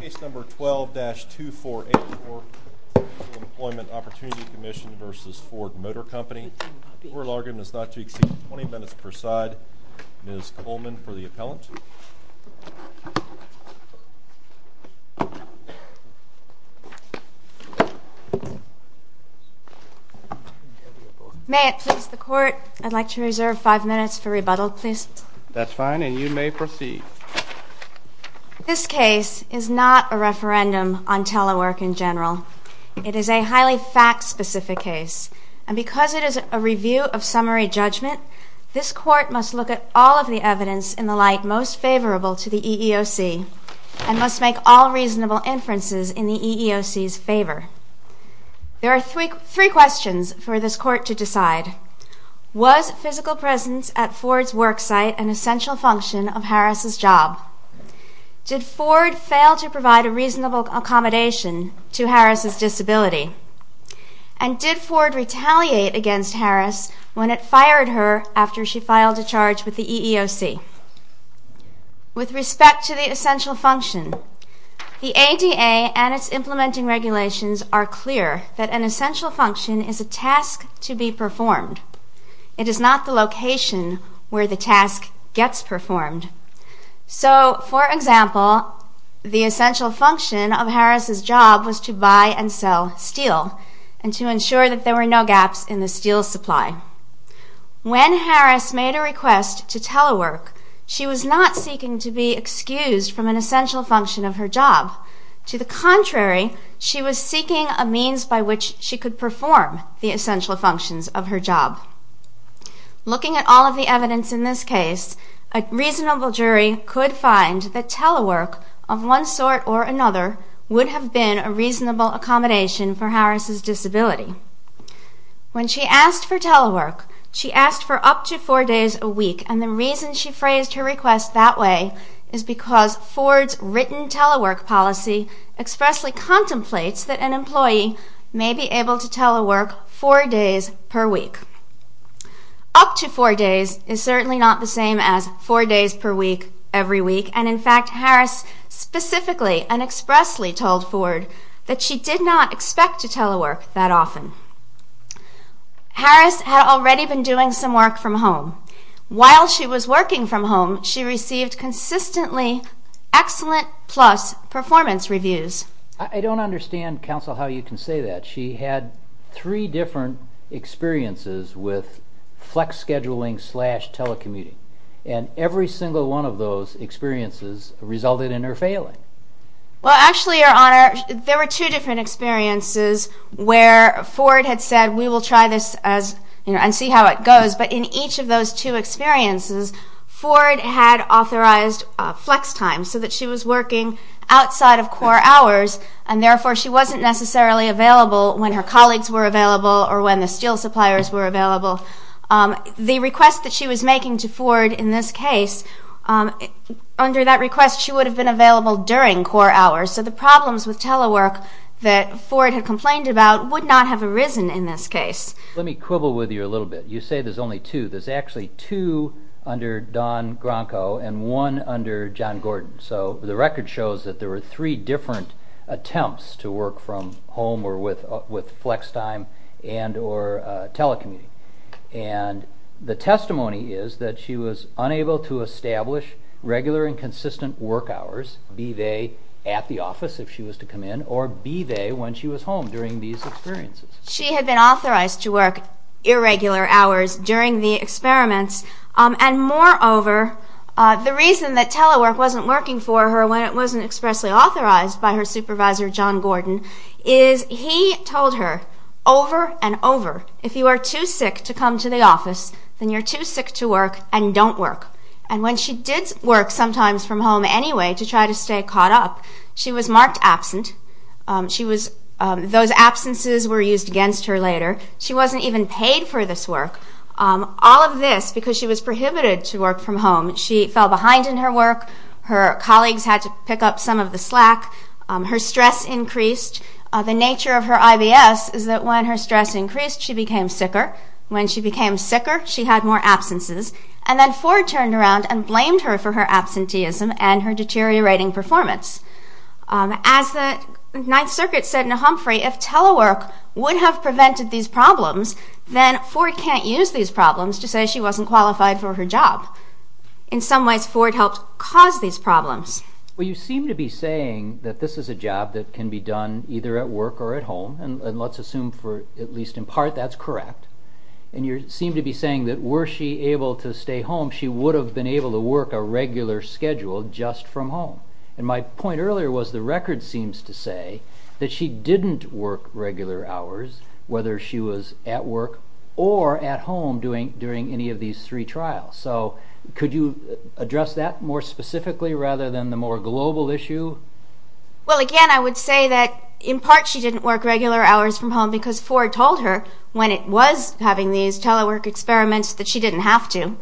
Case No. 12-2484, Employment Opportunity Commission v. Ford Motor Company. The oral argument is not to exceed 20 minutes per side. Ms. Coleman for the appellant. May it please the Court, I'd like to reserve 5 minutes for rebuttal, please. That's fine, and you may proceed. This case is not a referendum on telework in general. It is a highly fact-specific case, and because it is a review of summary judgment, this Court must look at all of the evidence in the light most favorable to the EEOC and must make all reasonable inferences in the EEOC's favor. There are three questions for this Court to decide. Was physical presence at Ford's worksite an essential function of Harris' job? Did Ford fail to provide a reasonable accommodation to Harris' disability? And did Ford retaliate against Harris when it fired her after she filed a charge with the EEOC? With respect to the essential function, the ADA and its implementing regulations are clear that an essential function is a task to be performed. It is not the location where the task gets performed. So, for example, the essential function of Harris' job was to buy and sell steel and to ensure that there were no gaps in the steel supply. When Harris made a request to telework, she was not seeking to be excused from an essential function of her job. To the contrary, she was seeking a means by which she could perform the essential functions of her job. Looking at all of the evidence in this case, a reasonable jury could find that telework of one sort or another would have been a reasonable accommodation for Harris' disability. When she asked for telework, she asked for up to four days a week, and the reason she phrased her request that way is because Ford's written telework policy expressly contemplates that an employee may be able to telework four days per week. Up to four days is certainly not the same as four days per week every week, and in fact Harris specifically and expressly told Ford that she did not expect to telework that often. Harris had already been doing some work from home. While she was working from home, she received consistently excellent plus performance reviews. I don't understand, Counsel, how you can say that. She had three different experiences with flex scheduling slash telecommuting, and every single one of those experiences resulted in her failing. Well, actually, Your Honor, there were two different experiences where Ford had said we will try this and see how it goes, but in each of those two experiences, Ford had authorized flex time so that she was working outside of core hours, and therefore she wasn't necessarily available when her colleagues were available or when the steel suppliers were available. The request that she was making to Ford in this case, under that request she would have been available during core hours, so the problems with telework that Ford had complained about would not have arisen in this case. Let me quibble with you a little bit. You say there's only two. There's actually two under Don Gronko and one under John Gordon. So the record shows that there were three different attempts to work from home or with flex time and or telecommuting, and the testimony is that she was unable to establish regular and consistent work hours, be they at the office if she was to come in or be they when she was home during these experiences. She had been authorized to work irregular hours during the experiments, and moreover, the reason that telework wasn't working for her when it wasn't expressly authorized by her supervisor, John Gordon, is he told her over and over, if you are too sick to come to the office, then you're too sick to work and don't work. And when she did work sometimes from home anyway to try to stay caught up, she was marked absent. Those absences were used against her later. She wasn't even paid for this work. All of this because she was prohibited to work from home. She fell behind in her work. Her colleagues had to pick up some of the slack. Her stress increased. The nature of her IBS is that when her stress increased, she became sicker. When she became sicker, she had more absences. And then Ford turned around and blamed her for her absenteeism and her deteriorating performance. As the Ninth Circuit said in Humphrey, if telework would have prevented these problems, then Ford can't use these problems to say she wasn't qualified for her job. In some ways, Ford helped cause these problems. Well, you seem to be saying that this is a job that can be done either at work or at home, and let's assume for at least in part that's correct. And you seem to be saying that were she able to stay home, she would have been able to work a regular schedule just from home. And my point earlier was the record seems to say that she didn't work regular hours, whether she was at work or at home during any of these three trials. So could you address that more specifically rather than the more global issue? Well, again, I would say that, in part, she didn't work regular hours from home because Ford told her when it was having these telework experiments that she didn't have to.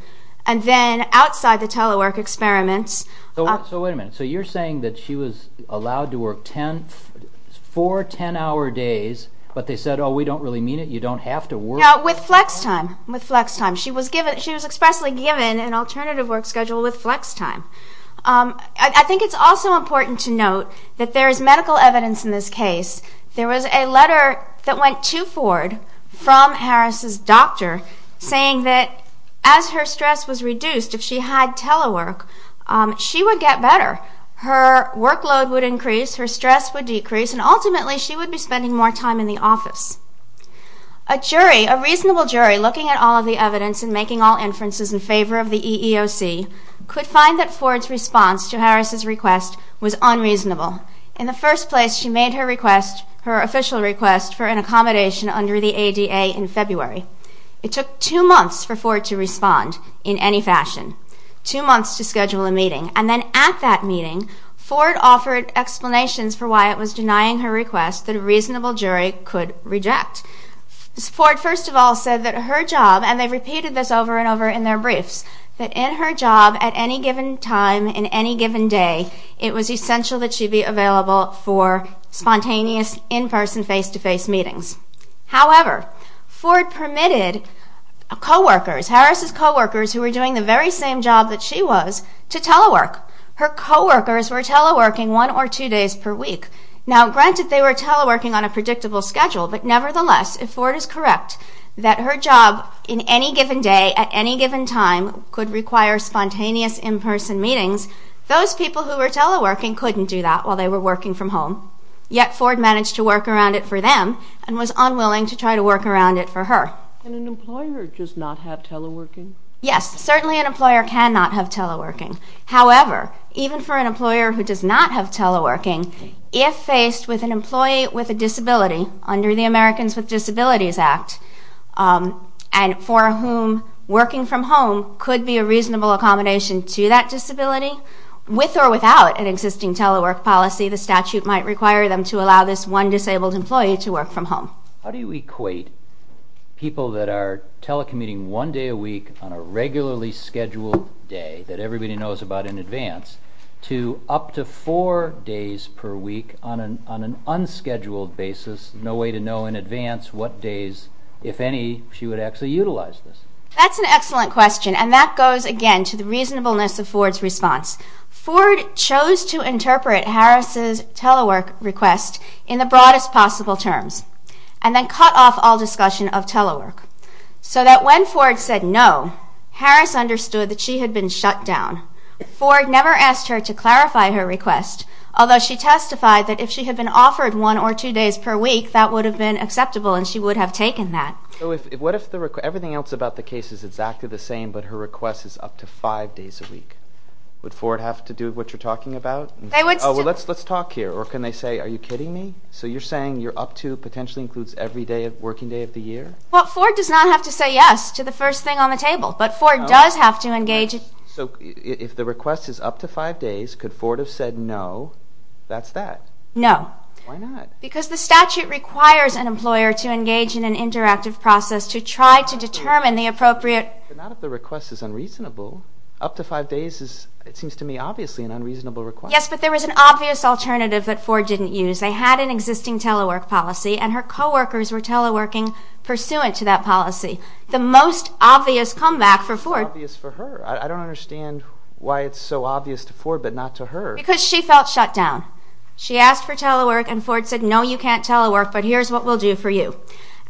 And then outside the telework experiments... So wait a minute. So you're saying that she was allowed to work four 10-hour days, but they said, oh, we don't really mean it, you don't have to work... No, with flex time, with flex time. She was expressly given an alternative work schedule with flex time. I think it's also important to note that there is medical evidence in this case. There was a letter that went to Ford from Harris's doctor saying that as her stress was reduced, if she had telework, she would get better. Her workload would increase, her stress would decrease, and ultimately she would be spending more time in the office. A jury, a reasonable jury, looking at all of the evidence and making all inferences in favor of the EEOC, could find that Ford's response to Harris's request was unreasonable. In the first place, she made her request, her official request, for an accommodation under the ADA in February. It took two months for Ford to respond in any fashion, two months to schedule a meeting. And then at that meeting, Ford offered explanations for why it was denying her request that a reasonable jury could reject. Ford, first of all, said that her job, and they repeated this over and over in their briefs, that in her job, at any given time, in any given day, it was essential that she be available for spontaneous in-person, face-to-face meetings. However, Ford permitted co-workers, Harris's co-workers, who were doing the very same job that she was, to telework. Her co-workers were teleworking one or two days per week. Now, granted, they were teleworking on a predictable schedule, but nevertheless, if Ford is correct that her job, in any given day, at any given time, could require spontaneous in-person meetings, those people who were teleworking couldn't do that while they were working from home. Yet Ford managed to work around it for them and was unwilling to try to work around it for her. Can an employer just not have teleworking? Yes, certainly an employer cannot have teleworking. However, even for an employer who does not have teleworking, if faced with an employee with a disability, under the Americans with Disabilities Act, and for whom working from home could be a reasonable accommodation to that disability, with or without an existing telework policy, the statute might require them to allow this one disabled employee to work from home. How do you equate people that are telecommuting one day a week on a regularly scheduled day that everybody knows about in advance to up to four days per week on an unscheduled basis, no way to know in advance what days, if any, she would actually utilize this? That's an excellent question, and that goes, again, to the reasonableness of Ford's response. Ford chose to interpret Harris's telework request in the broadest possible terms and then cut off all discussion of telework so that when Ford said no, Harris understood that she had been shut down. Ford never asked her to clarify her request, although she testified that if she had been offered one or two days per week, that would have been acceptable and she would have taken that. So what if everything else about the case is exactly the same but her request is up to five days a week? Would Ford have to do what you're talking about? Oh, well, let's talk here, or can they say, are you kidding me? So you're saying you're up to potentially includes every working day of the year? Well, Ford does not have to say yes to the first thing on the table, but Ford does have to engage... So if the request is up to five days, could Ford have said no, that's that? No. Why not? Because the statute requires an employer to engage in an interactive process to try to determine the appropriate... But not if the request is unreasonable. Up to five days is, it seems to me, obviously an unreasonable request. Yes, but there was an obvious alternative that Ford didn't use. They had an existing telework policy and her co-workers were teleworking pursuant to that policy. The most obvious comeback for Ford... It's obvious for her. I don't understand why it's so obvious to Ford but not to her. Because she felt shut down. She asked for telework and Ford said, no, you can't telework, but here's what we'll do for you.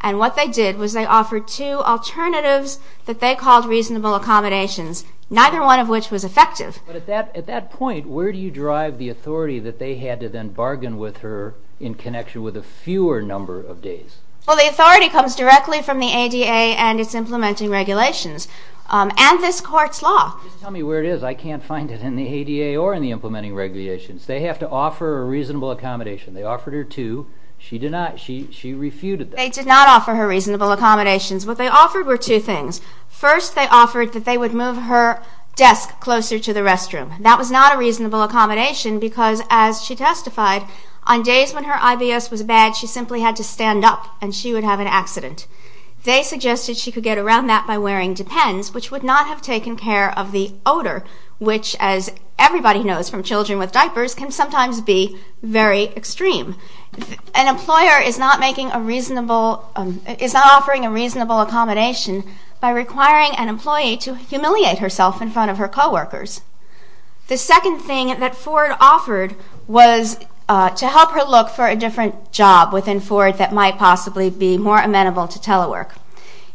And what they did was they offered two alternatives that they called reasonable accommodations, neither one of which was effective. But at that point, where do you drive the authority that they had to then bargain with her in connection with a fewer number of days? Well, the authority comes directly from the ADA and its implementing regulations and this court's law. Just tell me where it is. I can't find it in the ADA or in the implementing regulations. They have to offer a reasonable accommodation. They offered her two. She did not. She refuted them. They did not offer her reasonable accommodations. What they offered were two things. First, they offered that they would move her desk closer to the restroom. That was not a reasonable accommodation because, as she testified, on days when her IBS was bad, she simply had to stand up and she would have an accident. which would not have taken care of the odor, which, as everybody knows from children with diapers, can sometimes be very extreme. An employer is not offering a reasonable accommodation by requiring an employee to humiliate herself in front of her coworkers. The second thing that Ford offered was to help her look for a different job within Ford that might possibly be more amenable to telework.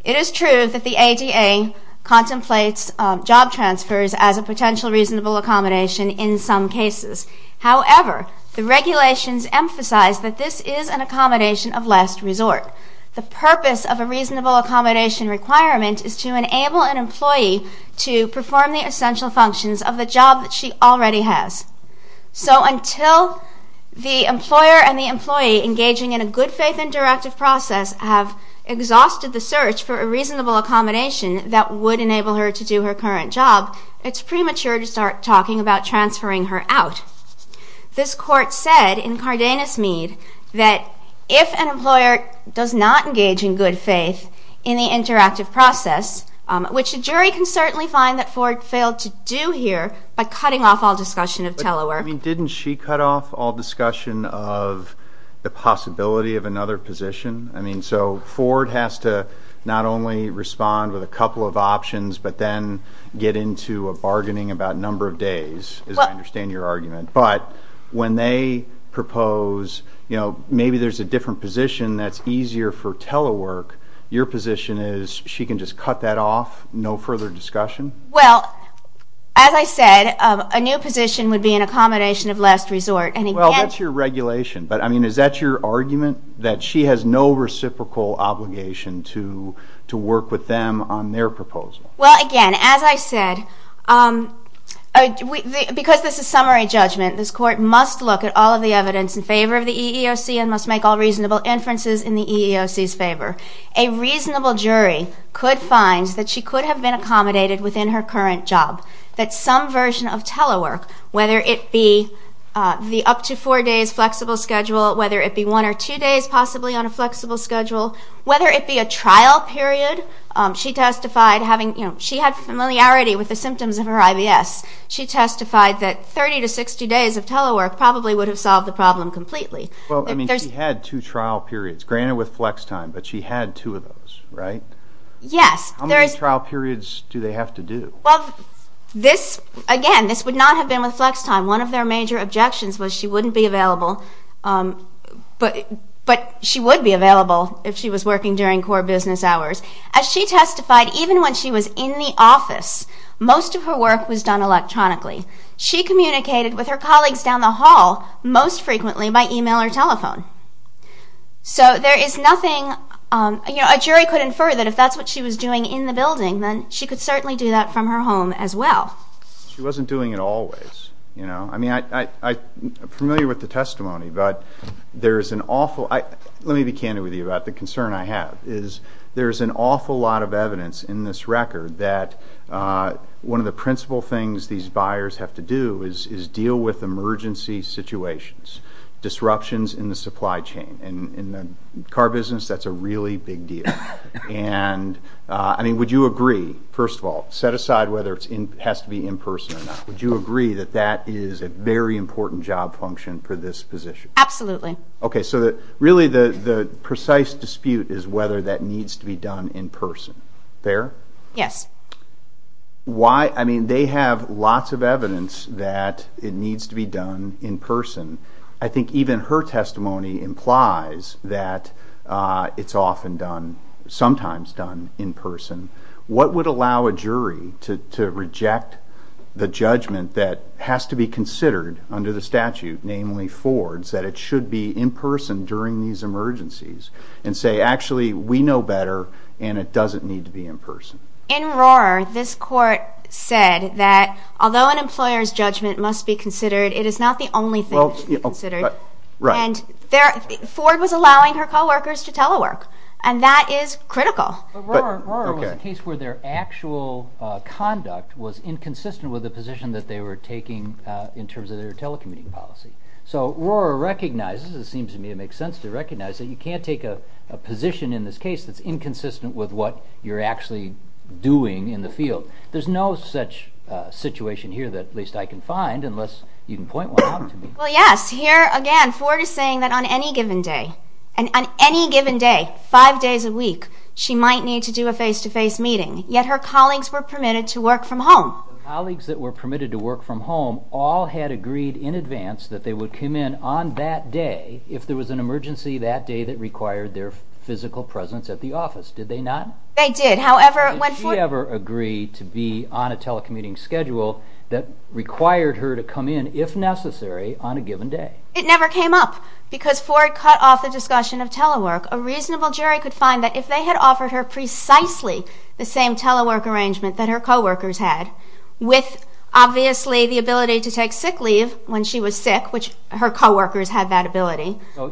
It is true that the ADA contemplates job transfers as a potential reasonable accommodation in some cases. However, the regulations emphasize that this is an accommodation of last resort. The purpose of a reasonable accommodation requirement is to enable an employee to perform the essential functions of the job that she already has. So until the employer and the employee engaging in a good faith and directive process have exhausted the search for a reasonable accommodation that would enable her to do her current job, it's premature to start talking about transferring her out. This court said in Cardenas Mead that if an employer does not engage in good faith in the interactive process, which a jury can certainly find that Ford failed to do here by cutting off all discussion of telework. But didn't she cut off all discussion of the possibility of another position? I mean, so Ford has to not only respond with a couple of options, but then get into a bargaining about number of days, as I understand your argument. But when they propose, you know, maybe there's a different position that's easier for telework, your position is she can just cut that off, no further discussion? Well, as I said, a new position would be an accommodation of last resort. Well, that's your regulation. But, I mean, is that your argument, that she has no reciprocal obligation to work with them on their proposal? Well, again, as I said, because this is summary judgment, this court must look at all of the evidence in favor of the EEOC and must make all reasonable inferences in the EEOC's favor. A reasonable jury could find that she could have been accommodated within her current job, that some version of telework, whether it be the up to four days flexible schedule, whether it be one or two days possibly on a flexible schedule, whether it be a trial period. She testified having, you know, she had familiarity with the symptoms of her IBS. She testified that 30 to 60 days of telework probably would have solved the problem completely. Well, I mean, she had two trial periods, granted with flex time, but she had two of those, right? Yes. How many trial periods do they have to do? Well, this, again, this would not have been with flex time. One of their major objections was she wouldn't be available, but she would be available if she was working during core business hours. As she testified, even when she was in the office, most of her work was done electronically. She communicated with her colleagues down the hall most frequently by email or telephone. So there is nothing... You know, a jury could infer that if that's what she was doing in the building, then she could certainly do that from her home as well. She wasn't doing it always, you know? I mean, I'm familiar with the testimony, but there is an awful... Let me be candid with you about the concern I have, is there is an awful lot of evidence in this record that one of the principal things these buyers have to do is deal with emergency situations, disruptions in the supply chain. In the car business, that's a really big deal. And, I mean, would you agree, first of all, set aside whether it has to be in person or not, would you agree that that is a very important job function for this position? Absolutely. Okay, so really the precise dispute is whether that needs to be done in person. Fair? Yes. Why? I mean, they have lots of evidence that it needs to be done in person. I think even her testimony implies that it's often done, sometimes done, in person. What would allow a jury to reject the judgment that has to be considered under the statute, namely Ford's, that it should be in person during these emergencies, and say, actually, we know better, and it doesn't need to be in person? In Rohrer, this court said that although an employer's judgment must be considered, it is not the only thing that should be considered. Ford was allowing her co-workers to telework, and that is critical. But Rohrer was a case where their actual conduct was inconsistent with the position that they were taking in terms of their telecommuting policy. So Rohrer recognizes, it seems to me it makes sense to recognize, that you can't take a position in this case that's inconsistent with what you're actually doing in the field. There's no such situation here that at least I can find, unless you can point one out to me. Well, yes, here again, Ford is saying that on any given day, and on any given day, five days a week, she might need to do a face-to-face meeting, yet her colleagues were permitted to work from home. The colleagues that were permitted to work from home all had agreed in advance that they would come in on that day if there was an emergency that day that required their physical presence at the office, did they not? They did, however, when Ford... Did she ever agree to be on a telecommuting schedule that required her to come in, if necessary, on a given day? It never came up, because Ford cut off the discussion of telework. A reasonable jury could find that if they had offered her precisely the same telework arrangement that her co-workers had, with obviously the ability to take sick leave when she was sick, which her co-workers had that ability... So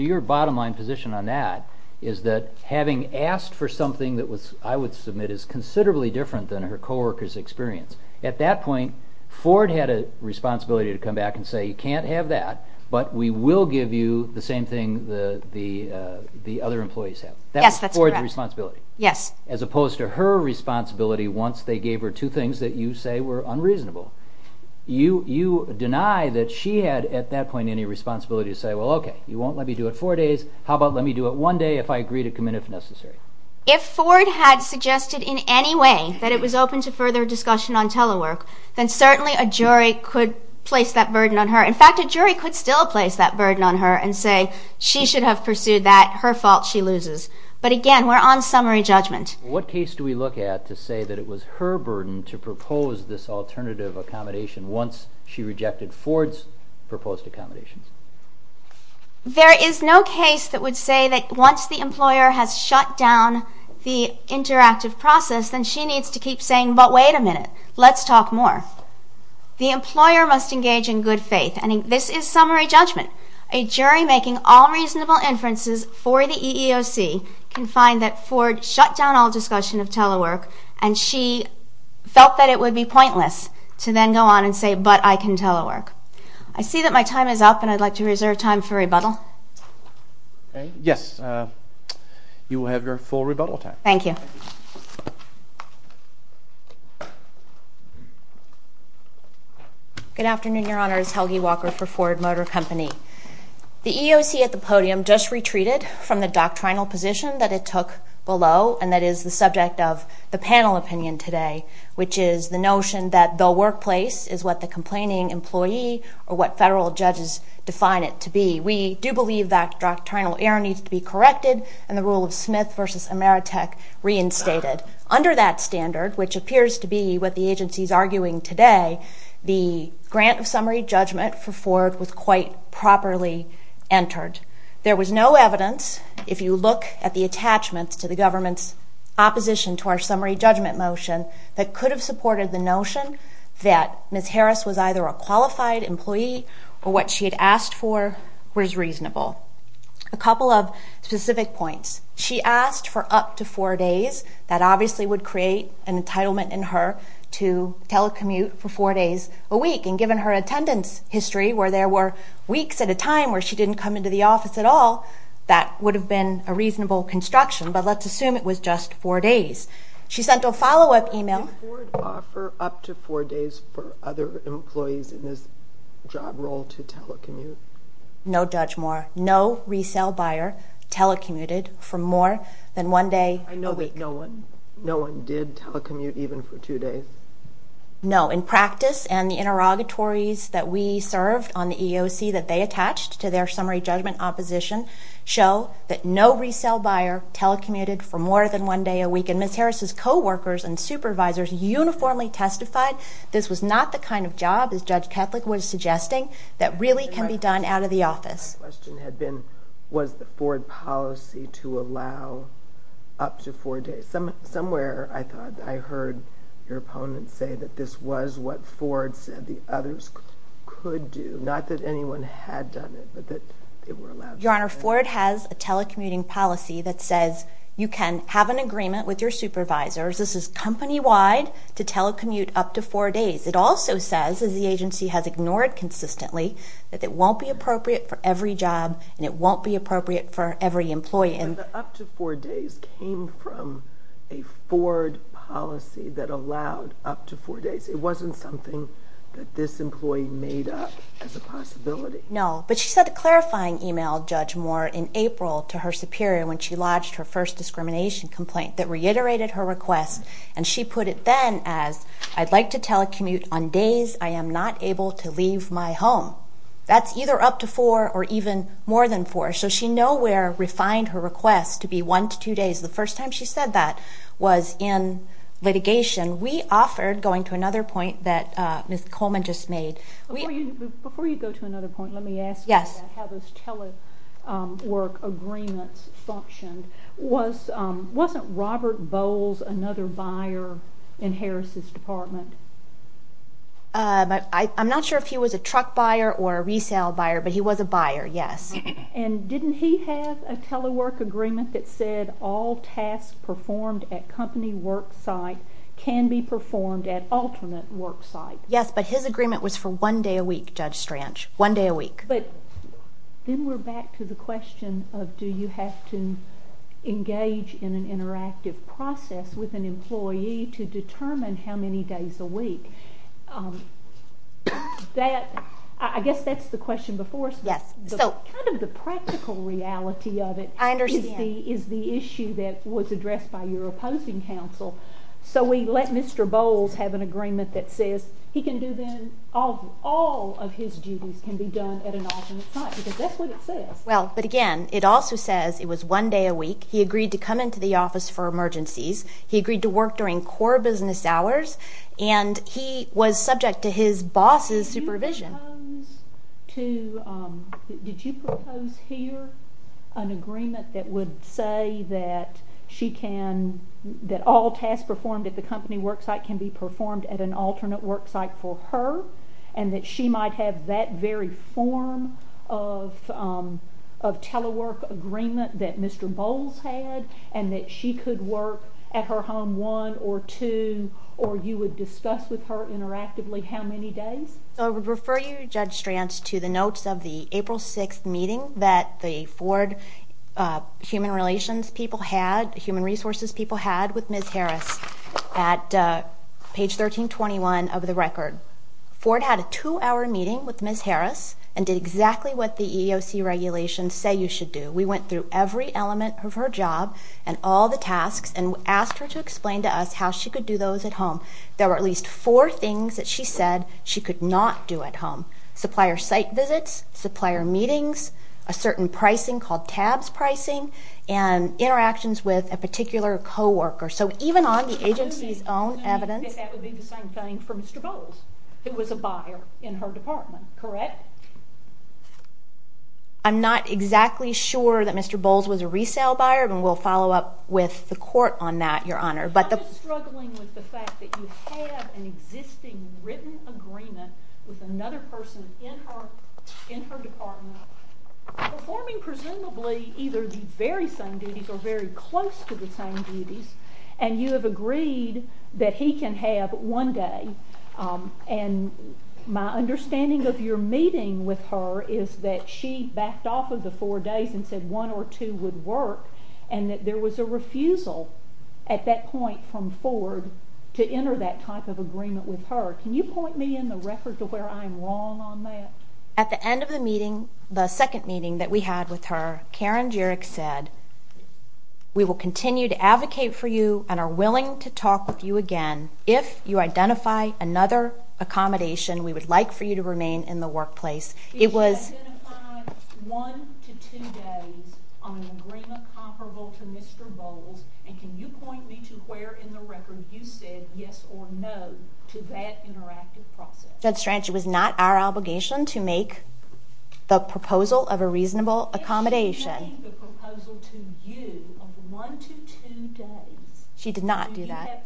your bottom-line position on that is that having asked for something that I would submit is considerably different than her co-workers' experience. At that point, Ford had a responsibility to come back and say, you can't have that, but we will give you the same thing the other employees have. Yes, that's correct. That was Ford's responsibility. Yes. As opposed to her responsibility, once they gave her two things that you say were unreasonable. You deny that she had, at that point, any responsibility to say, well, okay, you won't let me do it four days, how about let me do it one day if I agree to come in if necessary? If Ford had suggested in any way that it was open to further discussion on telework, then certainly a jury could place that burden on her. In fact, a jury could still place that burden on her and say she should have pursued that, her fault, she loses. But again, we're on summary judgment. What case do we look at to say that it was her burden to propose this alternative accommodation once she rejected Ford's proposed accommodation? There is no case that would say that once the employer has shut down the interactive process, then she needs to keep saying, but wait a minute, let's talk more. The employer must engage in good faith. And this is summary judgment. A jury making all reasonable inferences for the EEOC can find that Ford shut down all discussion of telework and she felt that it would be pointless to then go on and say, but I can telework. I see that my time is up, and I'd like to reserve time for rebuttal. Yes, you will have your full rebuttal time. Thank you. Good afternoon, Your Honors. Helgi Walker for Ford Motor Company. The EEOC at the podium just retreated from the doctrinal position that it took below, and that is the subject of the panel opinion today, which is the notion that the workplace is what the complaining employee or what federal judges define it to be. We do believe that doctrinal error needs to be corrected, and the rule of Smith v. Ameritech reinstated. Under that standard, which appears to be what the agency is arguing today, the grant of summary judgment for Ford was quite properly entered. There was no evidence, if you look at the attachments to the government's opposition to our summary judgment motion, that could have supported the notion that Ms. Harris was either a qualified employee or what she had asked for was reasonable. A couple of specific points. She asked for up to four days. That obviously would create an entitlement in her to telecommute for four days a week, and given her attendance history, where there were weeks at a time where she didn't come into the office at all, that would have been a reasonable construction, but let's assume it was just four days. She sent a follow-up email... Did Ford offer up to four days for other employees in this job role to telecommute? No, Judge Moore. No resale buyer telecommuted for more than one day a week. I know that no one did telecommute even for two days. No. In practice and the interrogatories that we served on the EEOC that they attached to their summary judgment opposition show that no resale buyer telecommuted for more than one day a week, and Ms. Harris's co-workers and supervisors uniformly testified this was not the kind of job, as Judge Ketlik was suggesting, that really can be done out of the office. My question had been, was the Ford policy to allow up to four days? Somewhere I thought I heard your opponent say that this was what Ford said the others could do, not that anyone had done it, but that they were allowed... Your Honor, Ford has a telecommuting policy that says you can have an agreement with your supervisors. This is company-wide to telecommute up to four days. It also says, as the agency has ignored consistently, that it won't be appropriate for every job and it won't be appropriate for every employee. But the up to four days came from a Ford policy that allowed up to four days. It wasn't something that this employee made up as a possibility. No, but she sent a clarifying email, Judge Moore, in April to her superior when she lodged her first discrimination complaint that reiterated her request, and she put it then as, I'd like to telecommute on days I am not able to leave my home. That's either up to four or even more than four. So she nowhere refined her request to be one to two days. The first time she said that was in litigation. We offered, going to another point that Ms. Coleman just made... Before you go to another point, let me ask you how those telework agreements functioned. Wasn't Robert Bowles another buyer in Harris' department? I'm not sure if he was a truck buyer or a resale buyer, but he was a buyer, yes. And didn't he have a telework agreement that said all tasks performed at company worksite can be performed at alternate worksite? Yes, but his agreement was for one day a week, Judge Stranch. One day a week. Then we're back to the question of do you have to engage in an interactive process with an employee to determine how many days a week? I guess that's the question before. Yes. Kind of the practical reality of it is the issue that was addressed by your opposing counsel. So we let Mr. Bowles have an agreement that says he can do then all of his duties can be done at an alternate site, because that's what it says. Well, but again, it also says it was one day a week. He agreed to come into the office for emergencies. He agreed to work during core business hours, and he was subject to his boss's supervision. Did you propose here an agreement that would say that all tasks performed at the company worksite can be performed at an alternate worksite for her, and that she might have that very form of telework agreement that Mr. Bowles had, and that she could work at her home one or two, or you would discuss with her interactively how many days? I would refer you, Judge Stranch, to the notes of the April 6th meeting that the Ford Human Relations people had, Human Resources people had with Ms. Harris at page 1321 of the record. Ford had a two-hour meeting with Ms. Harris and did exactly what the EEOC regulations say you should do. We went through every element of her job and all the tasks and asked her to explain to us how she could do those at home. There were at least four things that she said she could not do at home. Supplier site visits, supplier meetings, a certain pricing called tabs pricing, and interactions with a particular co-worker. So even on the agency's own evidence... ...that that would be the same thing for Mr. Bowles, who was a buyer in her department, correct? I'm not exactly sure that Mr. Bowles was a resale buyer, and we'll follow up with the court on that, Your Honor. I'm just struggling with the fact that you have an existing written agreement with another person in her department performing presumably either the very same duties or very close to the same duties, and you have agreed that he can have one day. And my understanding of your meeting with her is that she backed off of the four days and said one or two would work and that there was a refusal at that point from Ford to enter that type of agreement with her. Can you point me in the record to where I'm wrong on that? At the end of the meeting, the second meeting that we had with her, Karen Jurek said, we will continue to advocate for you and are willing to talk with you again if you identify another accommodation we would like for you to remain in the workplace. It was... She identified one to two days on an agreement comparable to Mr. Bowles, and can you point me to where in the record you said yes or no to that interactive process? Judge Strange, it was not our obligation to make the proposal of a reasonable accommodation. She did not do that.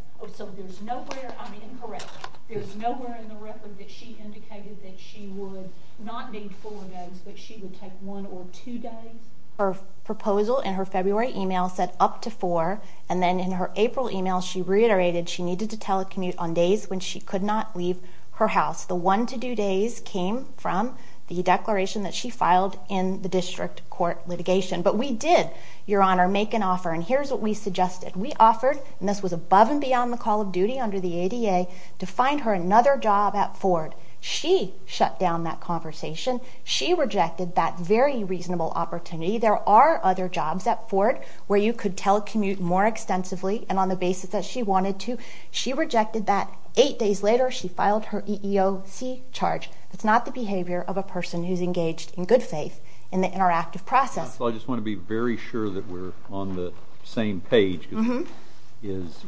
Her proposal in her February email said up to four, and then in her April email she reiterated she needed to telecommute on days when she could not leave her house. The one to two days came from the declaration that she filed in the district court litigation. But we did, Your Honor, make an offer, and here's what we suggested. We offered, and this was above and beyond the call of duty under the ADA, to find her another job at Ford. She shut down that conversation. She rejected that very reasonable opportunity. There are other jobs at Ford where you could telecommute more extensively, and on the basis that she wanted to. She rejected that. Eight days later she filed her EEOC charge. That's not the behavior of a person who's engaged in good faith in the interactive process. I just want to be very sure that we're on the same page.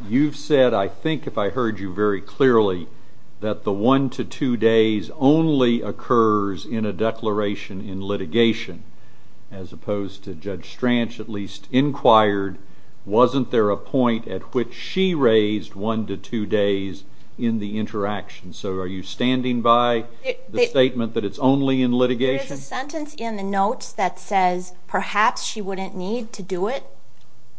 You've said, I think if I heard you very clearly, that the one to two days only occurs in a declaration in litigation, as opposed to Judge Strange at least inquired, wasn't there a point at which she raised one to two days in the interaction? So are you standing by the statement that it's only in litigation? There's a sentence in the notes that says perhaps she wouldn't need to do it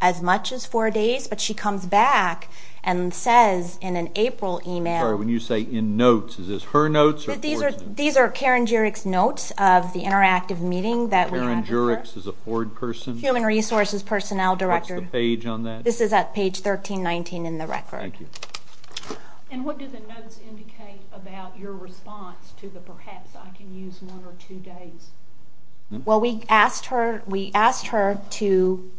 as much as four days, but she comes back and says in an April email... Sorry, when you say in notes, is this her notes or Ford's? These are Karen Juric's notes of the interactive meeting that we had with her. Karen Juric's is a Ford person? Human Resources Personnel Director. What's the page on that? This is at page 1319 in the record. Thank you. And what do the notes indicate about your response to the perhaps I can use one or two days? Well, we asked her to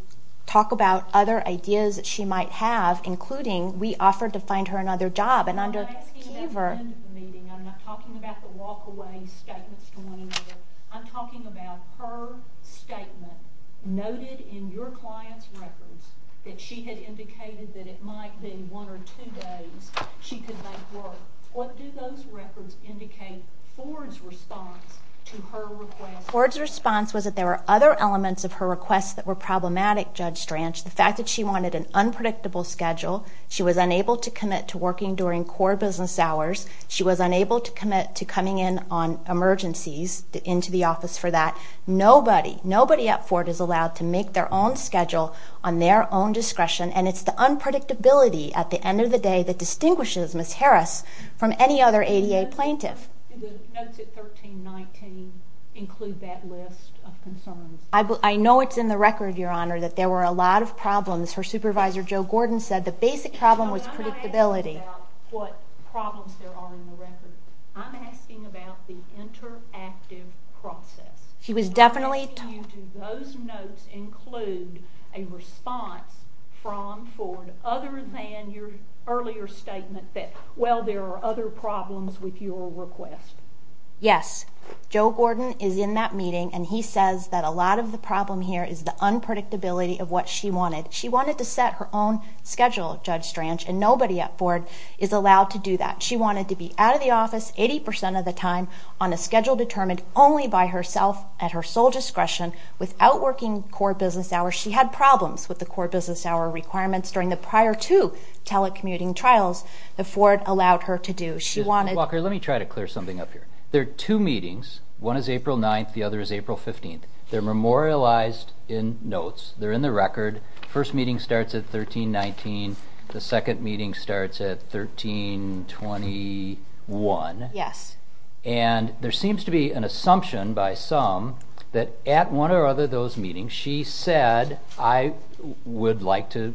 talk about other ideas that she might have, including we offered to find her another job. I'm not asking about the end of the meeting. I'm not talking about the walk-away statements to one another. I'm talking about her statement noted in your client's records that she had indicated that it might be one or two days she could make work. What do those records indicate Ford's response to her request? Ford's response was that there were other elements of her request that were problematic, Judge Stranch. The fact that she wanted an unpredictable schedule, she was unable to commit to working during core business hours, she was unable to commit to coming in on emergencies, into the office for that. Nobody, nobody at Ford is allowed to make their own schedule on their own discretion, and it's the unpredictability at the end of the day that distinguishes Ms. Harris from any other ADA plaintiff. Did the notes at 1319 include that list of concerns? I know it's in the record, Your Honor, that there were a lot of problems. Her supervisor, Joe Gordon, said the basic problem was predictability. I'm not asking about what problems there are in the record. I'm asking about the interactive process. She was definitely... Do those notes include a response from Ford other than your earlier statement that, well, there are other problems with your request? Yes. Joe Gordon is in that meeting, and he says that a lot of the problem here is the unpredictability of what she wanted. She wanted to set her own schedule, Judge Stranch, and nobody at Ford is allowed to do that. She wanted to be out of the office 80% of the time on a schedule determined only by herself at her sole discretion without working core business hours. She had problems with the core business hour requirements during the prior two telecommuting trials that Ford allowed her to do. Walker, let me try to clear something up here. There are two meetings. One is April 9th, the other is April 15th. They're memorialized in notes. They're in the record. First meeting starts at 1319. The second meeting starts at 1321. Yes. And there seems to be an assumption by some that at one or other of those meetings she said, I would like to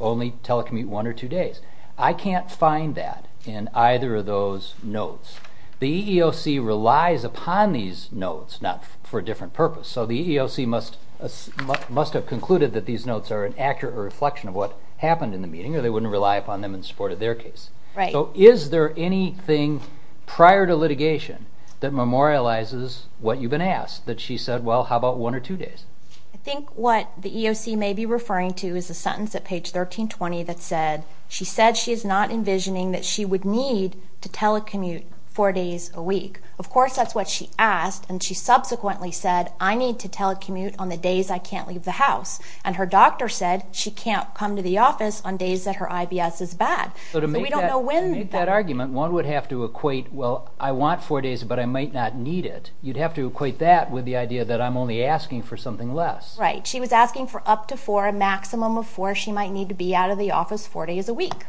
only telecommute one or two days. I can't find that in either of those notes. The EEOC relies upon these notes, not for a different purpose. So the EEOC must have concluded that these notes are an accurate reflection of what happened in the meeting or they wouldn't rely upon them in support of their case. So is there anything prior to litigation that memorializes what you've been asked, that she said, well, how about one or two days? I think what the EEOC may be referring to is a sentence at page 1320 that said, she said she is not envisioning that she would need to telecommute four days a week. Of course, that's what she asked, and she subsequently said, I need to telecommute on the days I can't leave the house. And her doctor said she can't come to the office on days that her IBS is bad. So to make that argument, one would have to equate, well, I want four days, but I might not need it. You'd have to equate that with the idea that I'm only asking for something less. Right. She was asking for up to four, a maximum of four, she might need to be out of the office four days a week.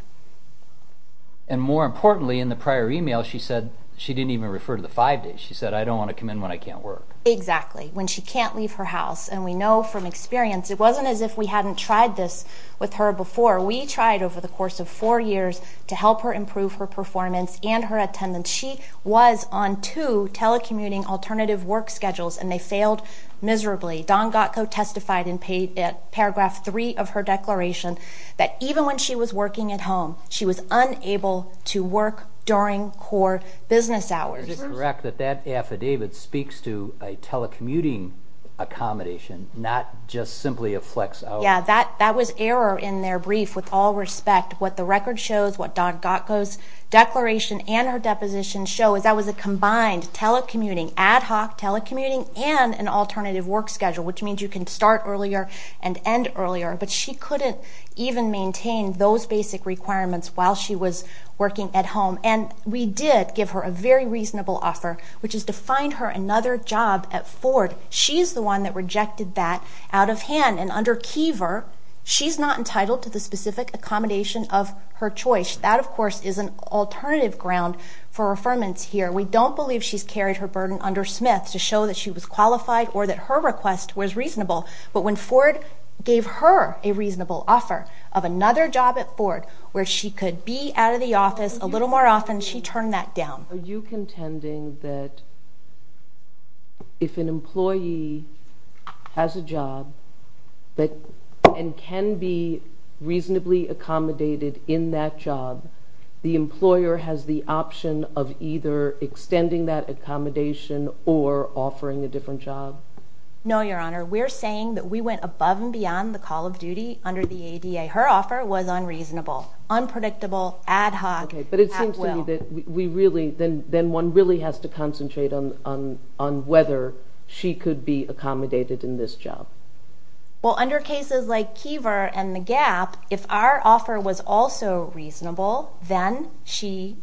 And more importantly, in the prior email, she said she didn't even refer to the five days. She said, I don't want to come in when I can't work. Exactly. When she can't leave her house, and we know from experience, it wasn't as if we hadn't tried this with her before. We tried over the course of four years to help her improve her performance and her attendance. She was on two telecommuting alternative work schedules, and they failed miserably. Don Gotko testified in paragraph three of her declaration that even when she was working at home, she was unable to work during core business hours. Is it correct that that affidavit speaks to a telecommuting accommodation, not just simply a flex hour? Yeah, that was error in their brief with all respect. What the record shows, what Don Gotko's declaration and her deposition show, is that was a combined telecommuting, ad hoc telecommuting, and an alternative work schedule, which means you can start earlier and end earlier. But she couldn't even maintain those basic requirements while she was working at home. And we did give her a very reasonable offer, which is to find her another job at Ford. She's the one that rejected that out of hand, and under Kiever, she's not entitled to the specific accommodation of her choice. That, of course, is an alternative ground for affirmance here. We don't believe she's carried her burden under Smith to show that she was qualified or that her request was reasonable. But when Ford gave her a reasonable offer of another job at Ford, where she could be out of the office a little more often, she turned that down. Are you contending that if an employee has a job and can be reasonably accommodated in that job, the employer has the option of either extending that accommodation or offering a different job? No, Your Honor. We're saying that we went above and beyond the call of duty under the ADA. Her offer was unreasonable, unpredictable, ad hoc, at will. Okay, but it seems to me that we really, then one really has to concentrate on whether she could be accommodated in this job. Well, under cases like Kiever and the gap, if our offer was also reasonable, then she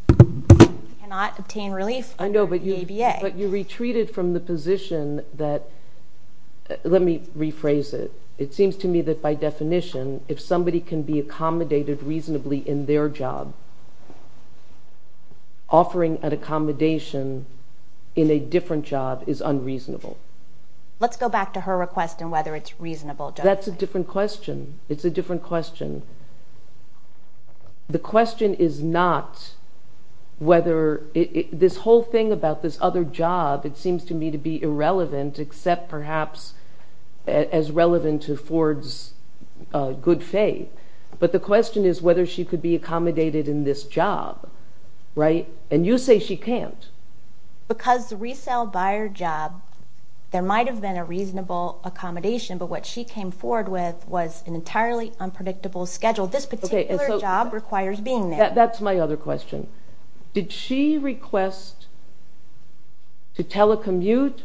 cannot obtain relief under the ADA. I know, but you retreated from the position that, let me rephrase it. It seems to me that by definition, if somebody can be accommodated reasonably in their job, offering an accommodation in a different job is unreasonable. Let's go back to her request and whether it's reasonable. That's a different question. It's a different question. The question is not whether this whole thing about this other job, it seems to me to be irrelevant except perhaps as relevant to Ford's good faith. But the question is whether she could be accommodated in this job, right? And you say she can't. Because the resale buyer job, there might have been a reasonable accommodation, but what she came forward with was an entirely unpredictable schedule. This particular job requires being there. That's my other question. Did she request to telecommute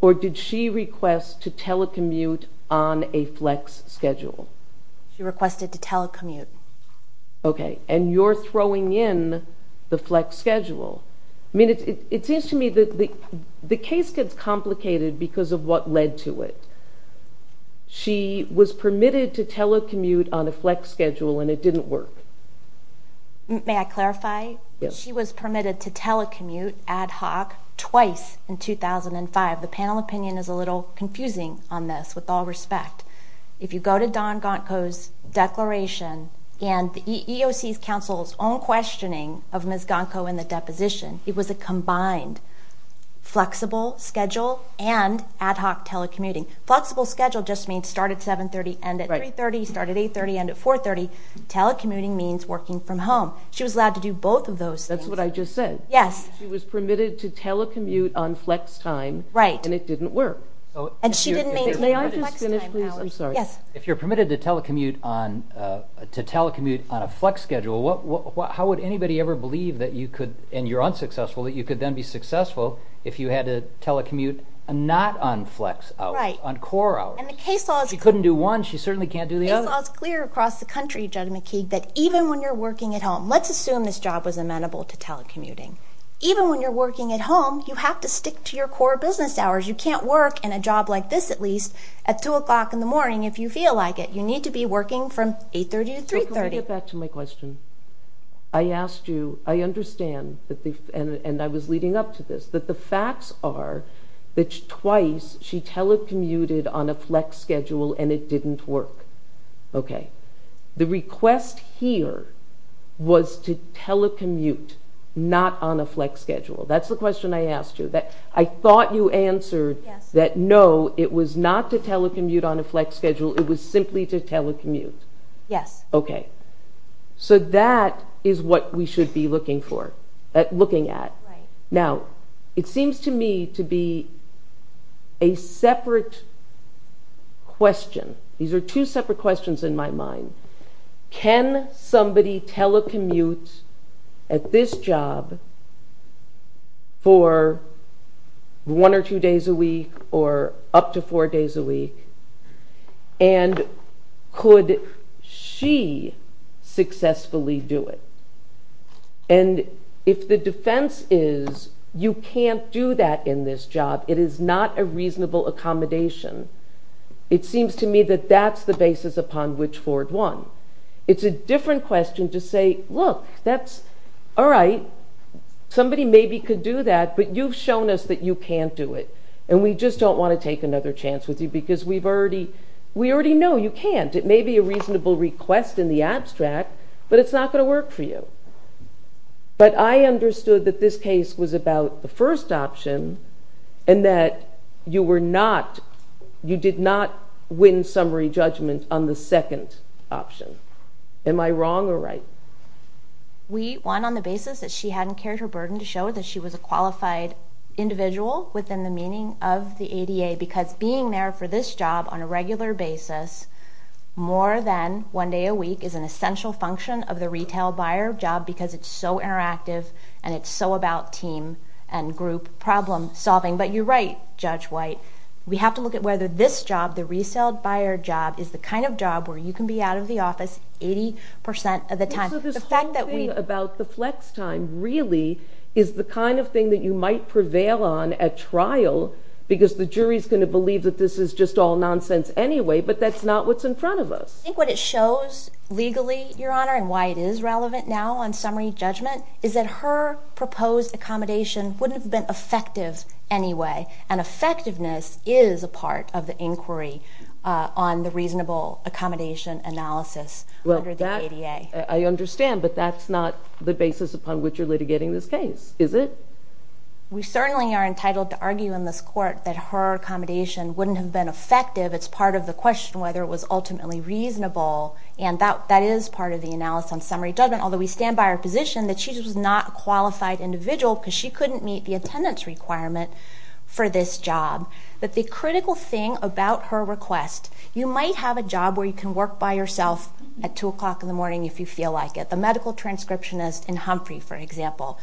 or did she request to telecommute on a flex schedule? She requested to telecommute. Okay, and you're throwing in the flex schedule. I mean, it seems to me that the case gets complicated because of what led to it. She was permitted to telecommute on a flex schedule and it didn't work. May I clarify? Yes. She was permitted to telecommute ad hoc twice in 2005. The panel opinion is a little confusing on this, with all respect. If you go to Don Gonko's declaration and the EEOC's counsel's own questioning of Ms. Gonko in the deposition, it was a combined flexible schedule and ad hoc telecommuting. Flexible schedule just means start at 7.30, end at 3.30, start at 8.30, end at 4.30. Telecommuting means working from home. She was allowed to do both of those things. That's what I just said. Yes. She was permitted to telecommute on flex time and it didn't work. May I just finish, please? I'm sorry. Yes. If you're permitted to telecommute on a flex schedule, how would anybody ever believe that you could, and you're unsuccessful, that you could then be successful if you had to telecommute not on flex hours, on core hours? She couldn't do one. She certainly can't do the other. It's clear across the country, Judge McKeague, that even when you're working at home, let's assume this job was amenable to telecommuting. Even when you're working at home, you have to stick to your core business hours. You can't work in a job like this, at least, at 2 o'clock in the morning if you feel like it. You need to be working from 8.30 to 3.30. Can we get back to my question? I asked you, I understand, and I was leading up to this, that the facts are that twice she telecommuted on a flex schedule and it didn't work. Okay. The request here was to telecommute, not on a flex schedule. That's the question I asked you. I thought you answered that, no, it was not to telecommute on a flex schedule. It was simply to telecommute. Yes. Okay. So that is what we should be looking at. Now, it seems to me to be a separate question. These are two separate questions in my mind. Can somebody telecommute at this job for one or two days a week or up to four days a week? And could she successfully do it? And if the defense is you can't do that in this job, it is not a reasonable accommodation, it seems to me that that's the basis upon which Ford won. It's a different question to say, look, that's, all right, somebody maybe could do that, but you've shown us that you can't do it, and we just don't want to take another chance with you because we already know you can't. It may be a reasonable request in the abstract, but it's not going to work for you. But I understood that this case was about the first option and that you were not, you did not win summary judgment on the second option. Am I wrong or right? We won on the basis that she hadn't carried her burden to show that she was a qualified individual within the meaning of the ADA because being there for this job on a regular basis more than one day a week is an essential function of the retail buyer job because it's so interactive and it's so about team and group problem solving. But you're right, Judge White. We have to look at whether this job, the resale buyer job, is the kind of job where you can be out of the office 80% of the time. The fact that we... So this whole thing about the flex time really is the kind of thing that you might prevail on at trial because the jury's going to believe that this is just all nonsense anyway, but that's not what's in front of us. I think what it shows legally, Your Honor, and why it is relevant now on summary judgment is that her proposed accommodation wouldn't have been effective anyway, and effectiveness is a part of the inquiry on the reasonable accommodation analysis under the ADA. I understand, but that's not the basis upon which you're litigating this case, is it? We certainly are entitled to argue in this court that her accommodation wouldn't have been effective. It's part of the question whether it was ultimately reasonable, and that is part of the analysis on summary judgment, although we stand by our position that she was not a qualified individual because she couldn't meet the attendance requirement for this job. But the critical thing about her request, you might have a job where you can work by yourself at 2 o'clock in the morning if you feel like it, the medical transcriptionist in Humphrey, for example.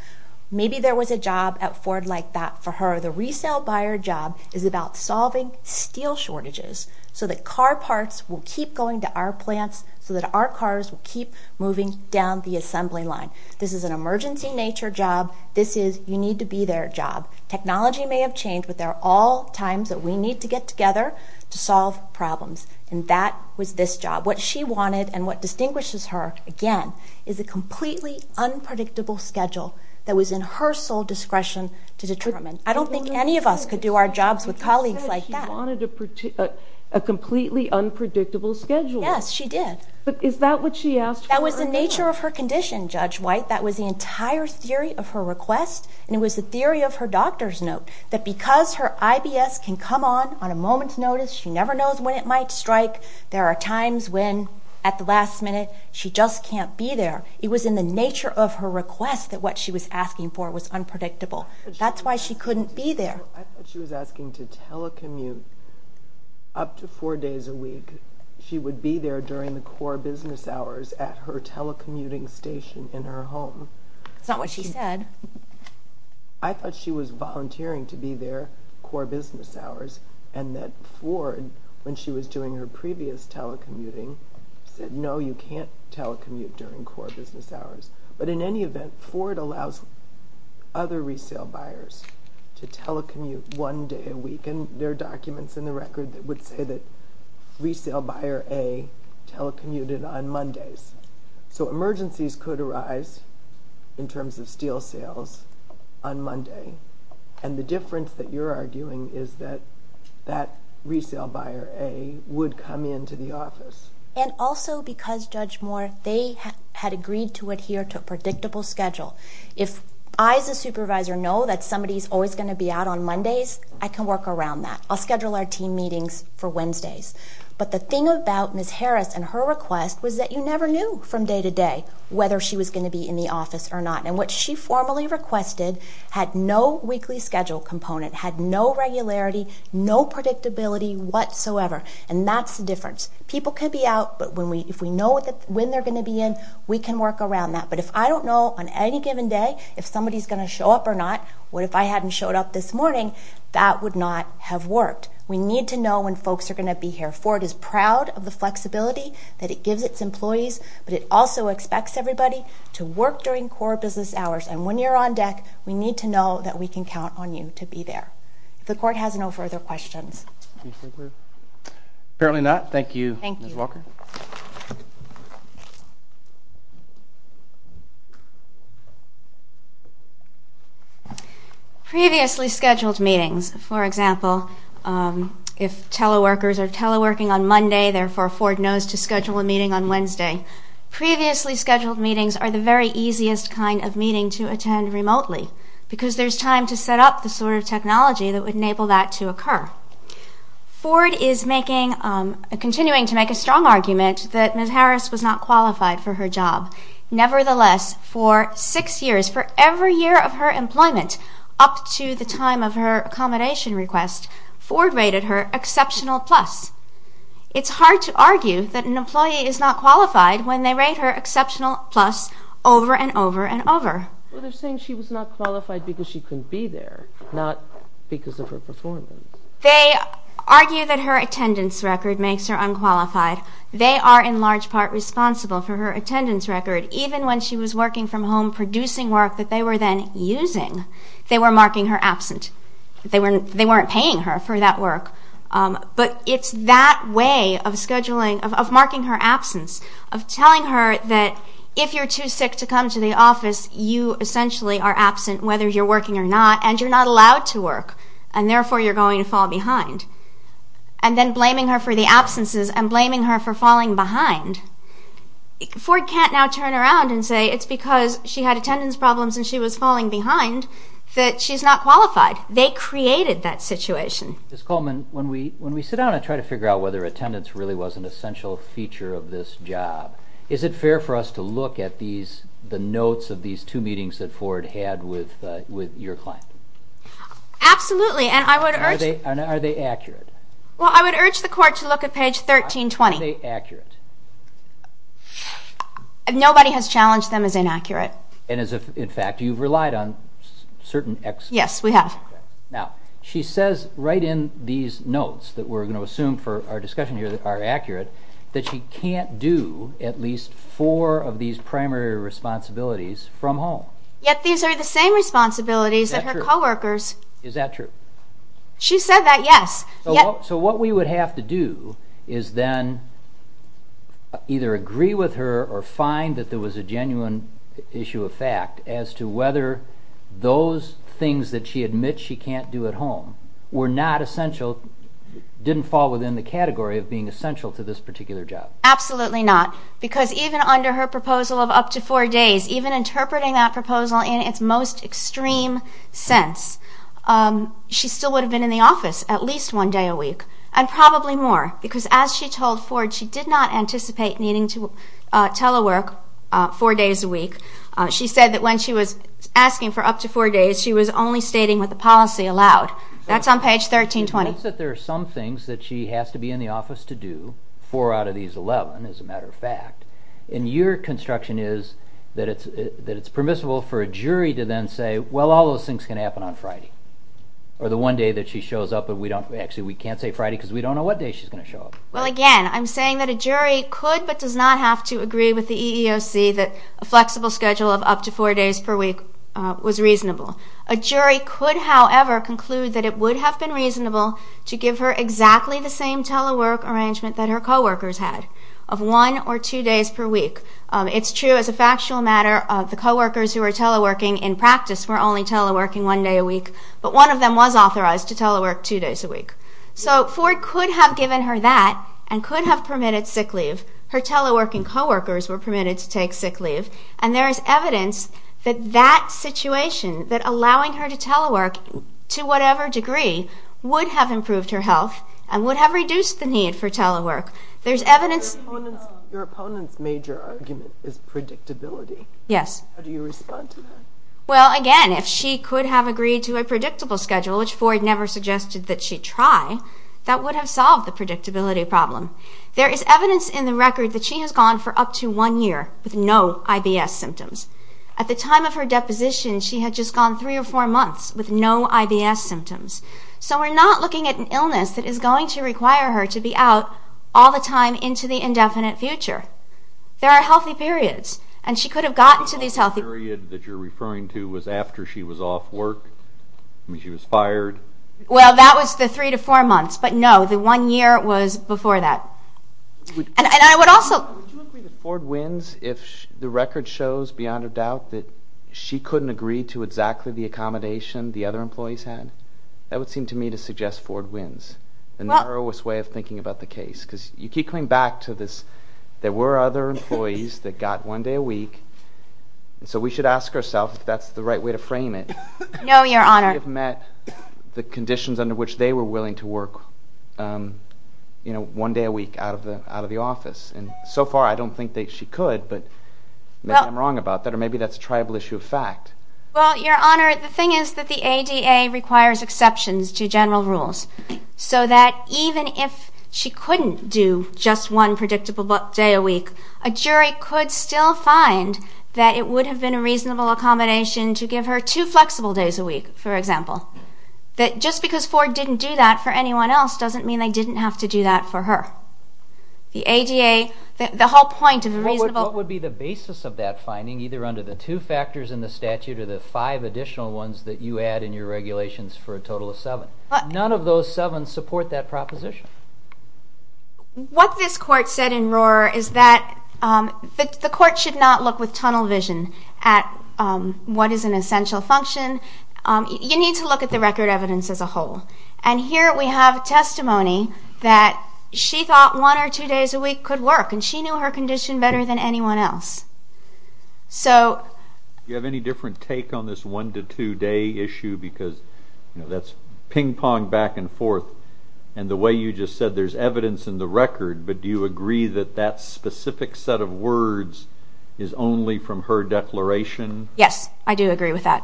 Maybe there was a job at Ford like that for her. The resale buyer job is about solving steel shortages so that car parts will keep going to our plants so that our cars will keep moving down the assembly line. This is an emergency nature job. This is you need to be there job. Technology may have changed, but there are all times that we need to get together to solve problems, and that was this job. What she wanted and what distinguishes her, again, is a completely unpredictable schedule that was in her sole discretion to determine. I don't think any of us could do our jobs with colleagues like that. But you said she wanted a completely unpredictable schedule. Yes, she did. But is that what she asked for? That was the nature of her condition, Judge White. That was the entire theory of her request, and it was the theory of her doctor's note, that because her IBS can come on on a moment's notice, she never knows when it might strike. There are times when, at the last minute, she just can't be there. It was in the nature of her request that what she was asking for was unpredictable. That's why she couldn't be there. I thought she was asking to telecommute up to four days a week. She would be there during the core business hours at her telecommuting station in her home. That's not what she said. I thought she was volunteering to be there core business hours, and that Ford, when she was doing her previous telecommuting, said, no, you can't telecommute during core business hours. But in any event, Ford allows other resale buyers to telecommute one day a week, and there are documents in the record that would say that resale buyer A telecommuted on Mondays. So emergencies could arise in terms of steel sales on Monday, and the difference that you're arguing is that that resale buyer A would come into the office. And also because, Judge Moore, they had agreed to adhere to a predictable schedule. If I, as a supervisor, know that somebody's always going to be out on Mondays, I can work around that. I'll schedule our team meetings for Wednesdays. But the thing about Ms. Harris and her request was that you never knew from day to day whether she was going to be in the office or not. And what she formally requested had no weekly schedule component, had no regularity, no predictability whatsoever, and that's the difference. People can be out, but if we know when they're going to be in, we can work around that. But if I don't know on any given day if somebody's going to show up or not, what if I hadn't showed up this morning, that would not have worked. We need to know when folks are going to be here. Ford is proud of the flexibility that it gives its employees, but it also expects everybody to work during core business hours. And when you're on deck, we need to know that we can count on you to be there. If the Court has no further questions. Apparently not. Thank you, Ms. Walker. Thank you. Previously scheduled meetings, for example, if teleworkers are teleworking on Monday, therefore Ford knows to schedule a meeting on Wednesday, previously scheduled meetings are the very easiest kind of meeting to attend remotely because there's time to set up the sort of technology that would enable that to occur. Ford is continuing to make a strong argument that Ms. Harris was not qualified for her job. Nevertheless, for six years, for every year of her employment up to the time of her accommodation request, Ford rated her exceptional plus. It's hard to argue that an employee is not qualified when they rate her exceptional plus over and over and over. Well, they're saying she was not qualified because she couldn't be there, not because of her performance. They argue that her attendance record makes her unqualified. They are in large part responsible for her attendance record, even when she was working from home producing work that they were then using. They were marking her absent. They weren't paying her for that work. But it's that way of scheduling, of marking her absence, of telling her that if you're too sick to come to the office, you essentially are absent whether you're working or not, and you're not allowed to work, and therefore you're going to fall behind, and then blaming her for the absences and blaming her for falling behind. Ford can't now turn around and say, it's because she had attendance problems and she was falling behind, that she's not qualified. They created that situation. Ms. Coleman, when we sit down and try to figure out whether attendance really was an essential feature of this job, is it fair for us to look at the notes of these two meetings that Ford had with your client? Absolutely. And are they accurate? Well, I would urge the court to look at page 1320. Are they accurate? Nobody has challenged them as inaccurate. In fact, you've relied on certain experts. Yes, we have. Now, she says right in these notes that we're going to assume for our discussion here that are accurate, that she can't do at least four of these primary responsibilities from home. Yet these are the same responsibilities that her co-workers. Is that true? She said that, yes. So what we would have to do is then either agree with her or find that there was a genuine issue of fact as to whether those things that she admits she can't do at home were not essential, didn't fall within the category of being essential to this particular job. Absolutely not. Because even under her proposal of up to four days, even interpreting that proposal in its most extreme sense, she still would have been in the office at least one day a week, and probably more, because as she told Ford, she did not anticipate needing to telework four days a week. She said that when she was asking for up to four days, she was only stating what the policy allowed. That's on page 1320. She notes that there are some things that she has to be in the office to do, four out of these 11, as a matter of fact, and your construction is that it's permissible for a jury to then say, well, all those things can happen on Friday, or the one day that she shows up. Actually, we can't say Friday, because we don't know what day she's going to show up. Well, again, I'm saying that a jury could but does not have to agree with the EEOC that a flexible schedule of up to four days per week was reasonable. A jury could, however, conclude that it would have been reasonable to give her exactly the same telework arrangement that her co-workers had of one or two days per week. It's true as a factual matter, the co-workers who were teleworking in practice were only teleworking one day a week, but one of them was authorized to telework two days a week. So Ford could have given her that and could have permitted sick leave. Her teleworking co-workers were permitted to take sick leave, and there is evidence that that situation, that allowing her to telework to whatever degree, would have improved her health and would have reduced the need for telework. There's evidence... Your opponent's major argument is predictability. Yes. How do you respond to that? Well, again, if she could have agreed to a predictable schedule, which Ford never suggested that she try, that would have solved the predictability problem. There is evidence in the record that she has gone for up to one year with no IBS symptoms. At the time of her deposition, she had just gone three or four months with no IBS symptoms. So we're not looking at an illness that is going to require her to be out all the time into the indefinite future. There are healthy periods, and she could have gotten to these healthy periods. The period that you're referring to was after she was off work? I mean, she was fired? Well, that was the three to four months, but no, the one year was before that. And I would also... Would you agree that Ford wins if the record shows beyond a doubt that she couldn't agree to exactly the accommodation the other employees had? That would seem to me to suggest Ford wins, the narrowest way of thinking about the case, because you keep coming back to this, there were other employees that got one day a week, and so we should ask ourselves if that's the right way to frame it. No, Your Honor. They have met the conditions under which they were willing to work, you know, one day a week out of the office. And so far, I don't think that she could, but maybe I'm wrong about that, or maybe that's a tribal issue of fact. Well, Your Honor, the thing is that the ADA requires exceptions to general rules so that even if she couldn't do just one predictable day a week, a jury could still find that it would have been a reasonable accommodation to give her two flexible days a week, for example. Just because Ford didn't do that for anyone else doesn't mean they didn't have to do that for her. The ADA... The whole point of a reasonable... What would be the basis of that finding, either under the two factors in the statute or the five additional ones that you add in your regulations for a total of seven? None of those seven support that proposition. What this Court said in Rohrer is that the Court should not look with tunnel vision at what is an essential function. You need to look at the record evidence as a whole. And here we have testimony that she thought one or two days a week could work, and she knew her condition better than anyone else. So... Do you have any different take on this one-to-two-day issue? Because, you know, that's ping-pong back and forth. And the way you just said there's evidence in the record, but do you agree that that specific set of words is only from her declaration? Yes, I do agree with that.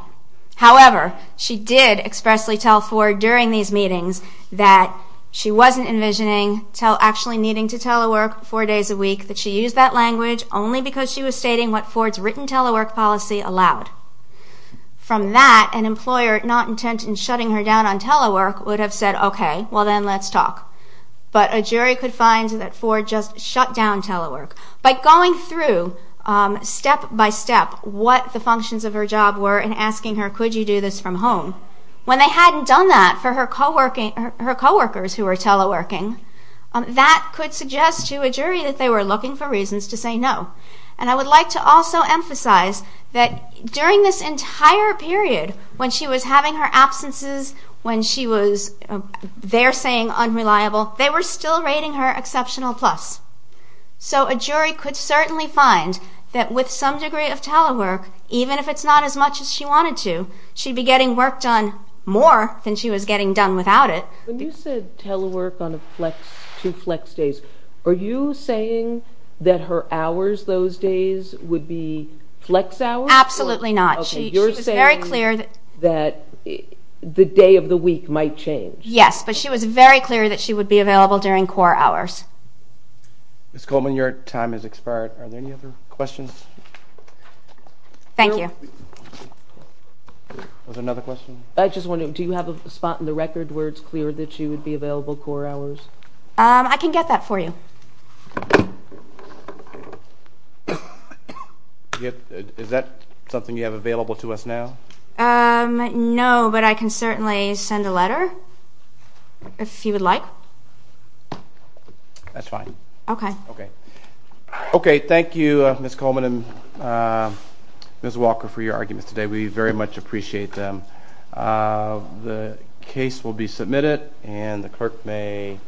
However, she did expressly tell Ford during these meetings that she wasn't envisioning actually needing to telework four days a week, that she used that language only because she was stating what Ford's written telework policy allowed. From that, an employer not intent in shutting her down on telework would have said, okay, well then let's talk. But a jury could find that Ford just shut down telework. By going through, step by step, what the functions of her job were and asking her, could you do this from home, when they hadn't done that for her coworkers who were teleworking, that could suggest to a jury that they were looking for reasons to say no. And I would like to also emphasize that during this entire period, when she was having her absences, when she was, they're saying, unreliable, they were still rating her exceptional plus. So a jury could certainly find that with some degree of telework, even if it's not as much as she wanted to, she'd be getting work done more than she was getting done without it. When you said telework on two flex days, are you saying that her hours those days would be flex hours? Absolutely not. You're saying that the day of the week might change. Yes, but she was very clear that she would be available during core hours. Ms. Coleman, your time has expired. Are there any other questions? Thank you. Was there another question? I just wondered, do you have a spot in the record where it's clear that she would be available core hours? I can get that for you. Is that something you have available to us now? No, but I can certainly send a letter, if you would like. That's fine. Okay. Okay, thank you, Ms. Coleman and Ms. Walker, for your arguments today. We very much appreciate them. The case will be submitted, and the clerk may...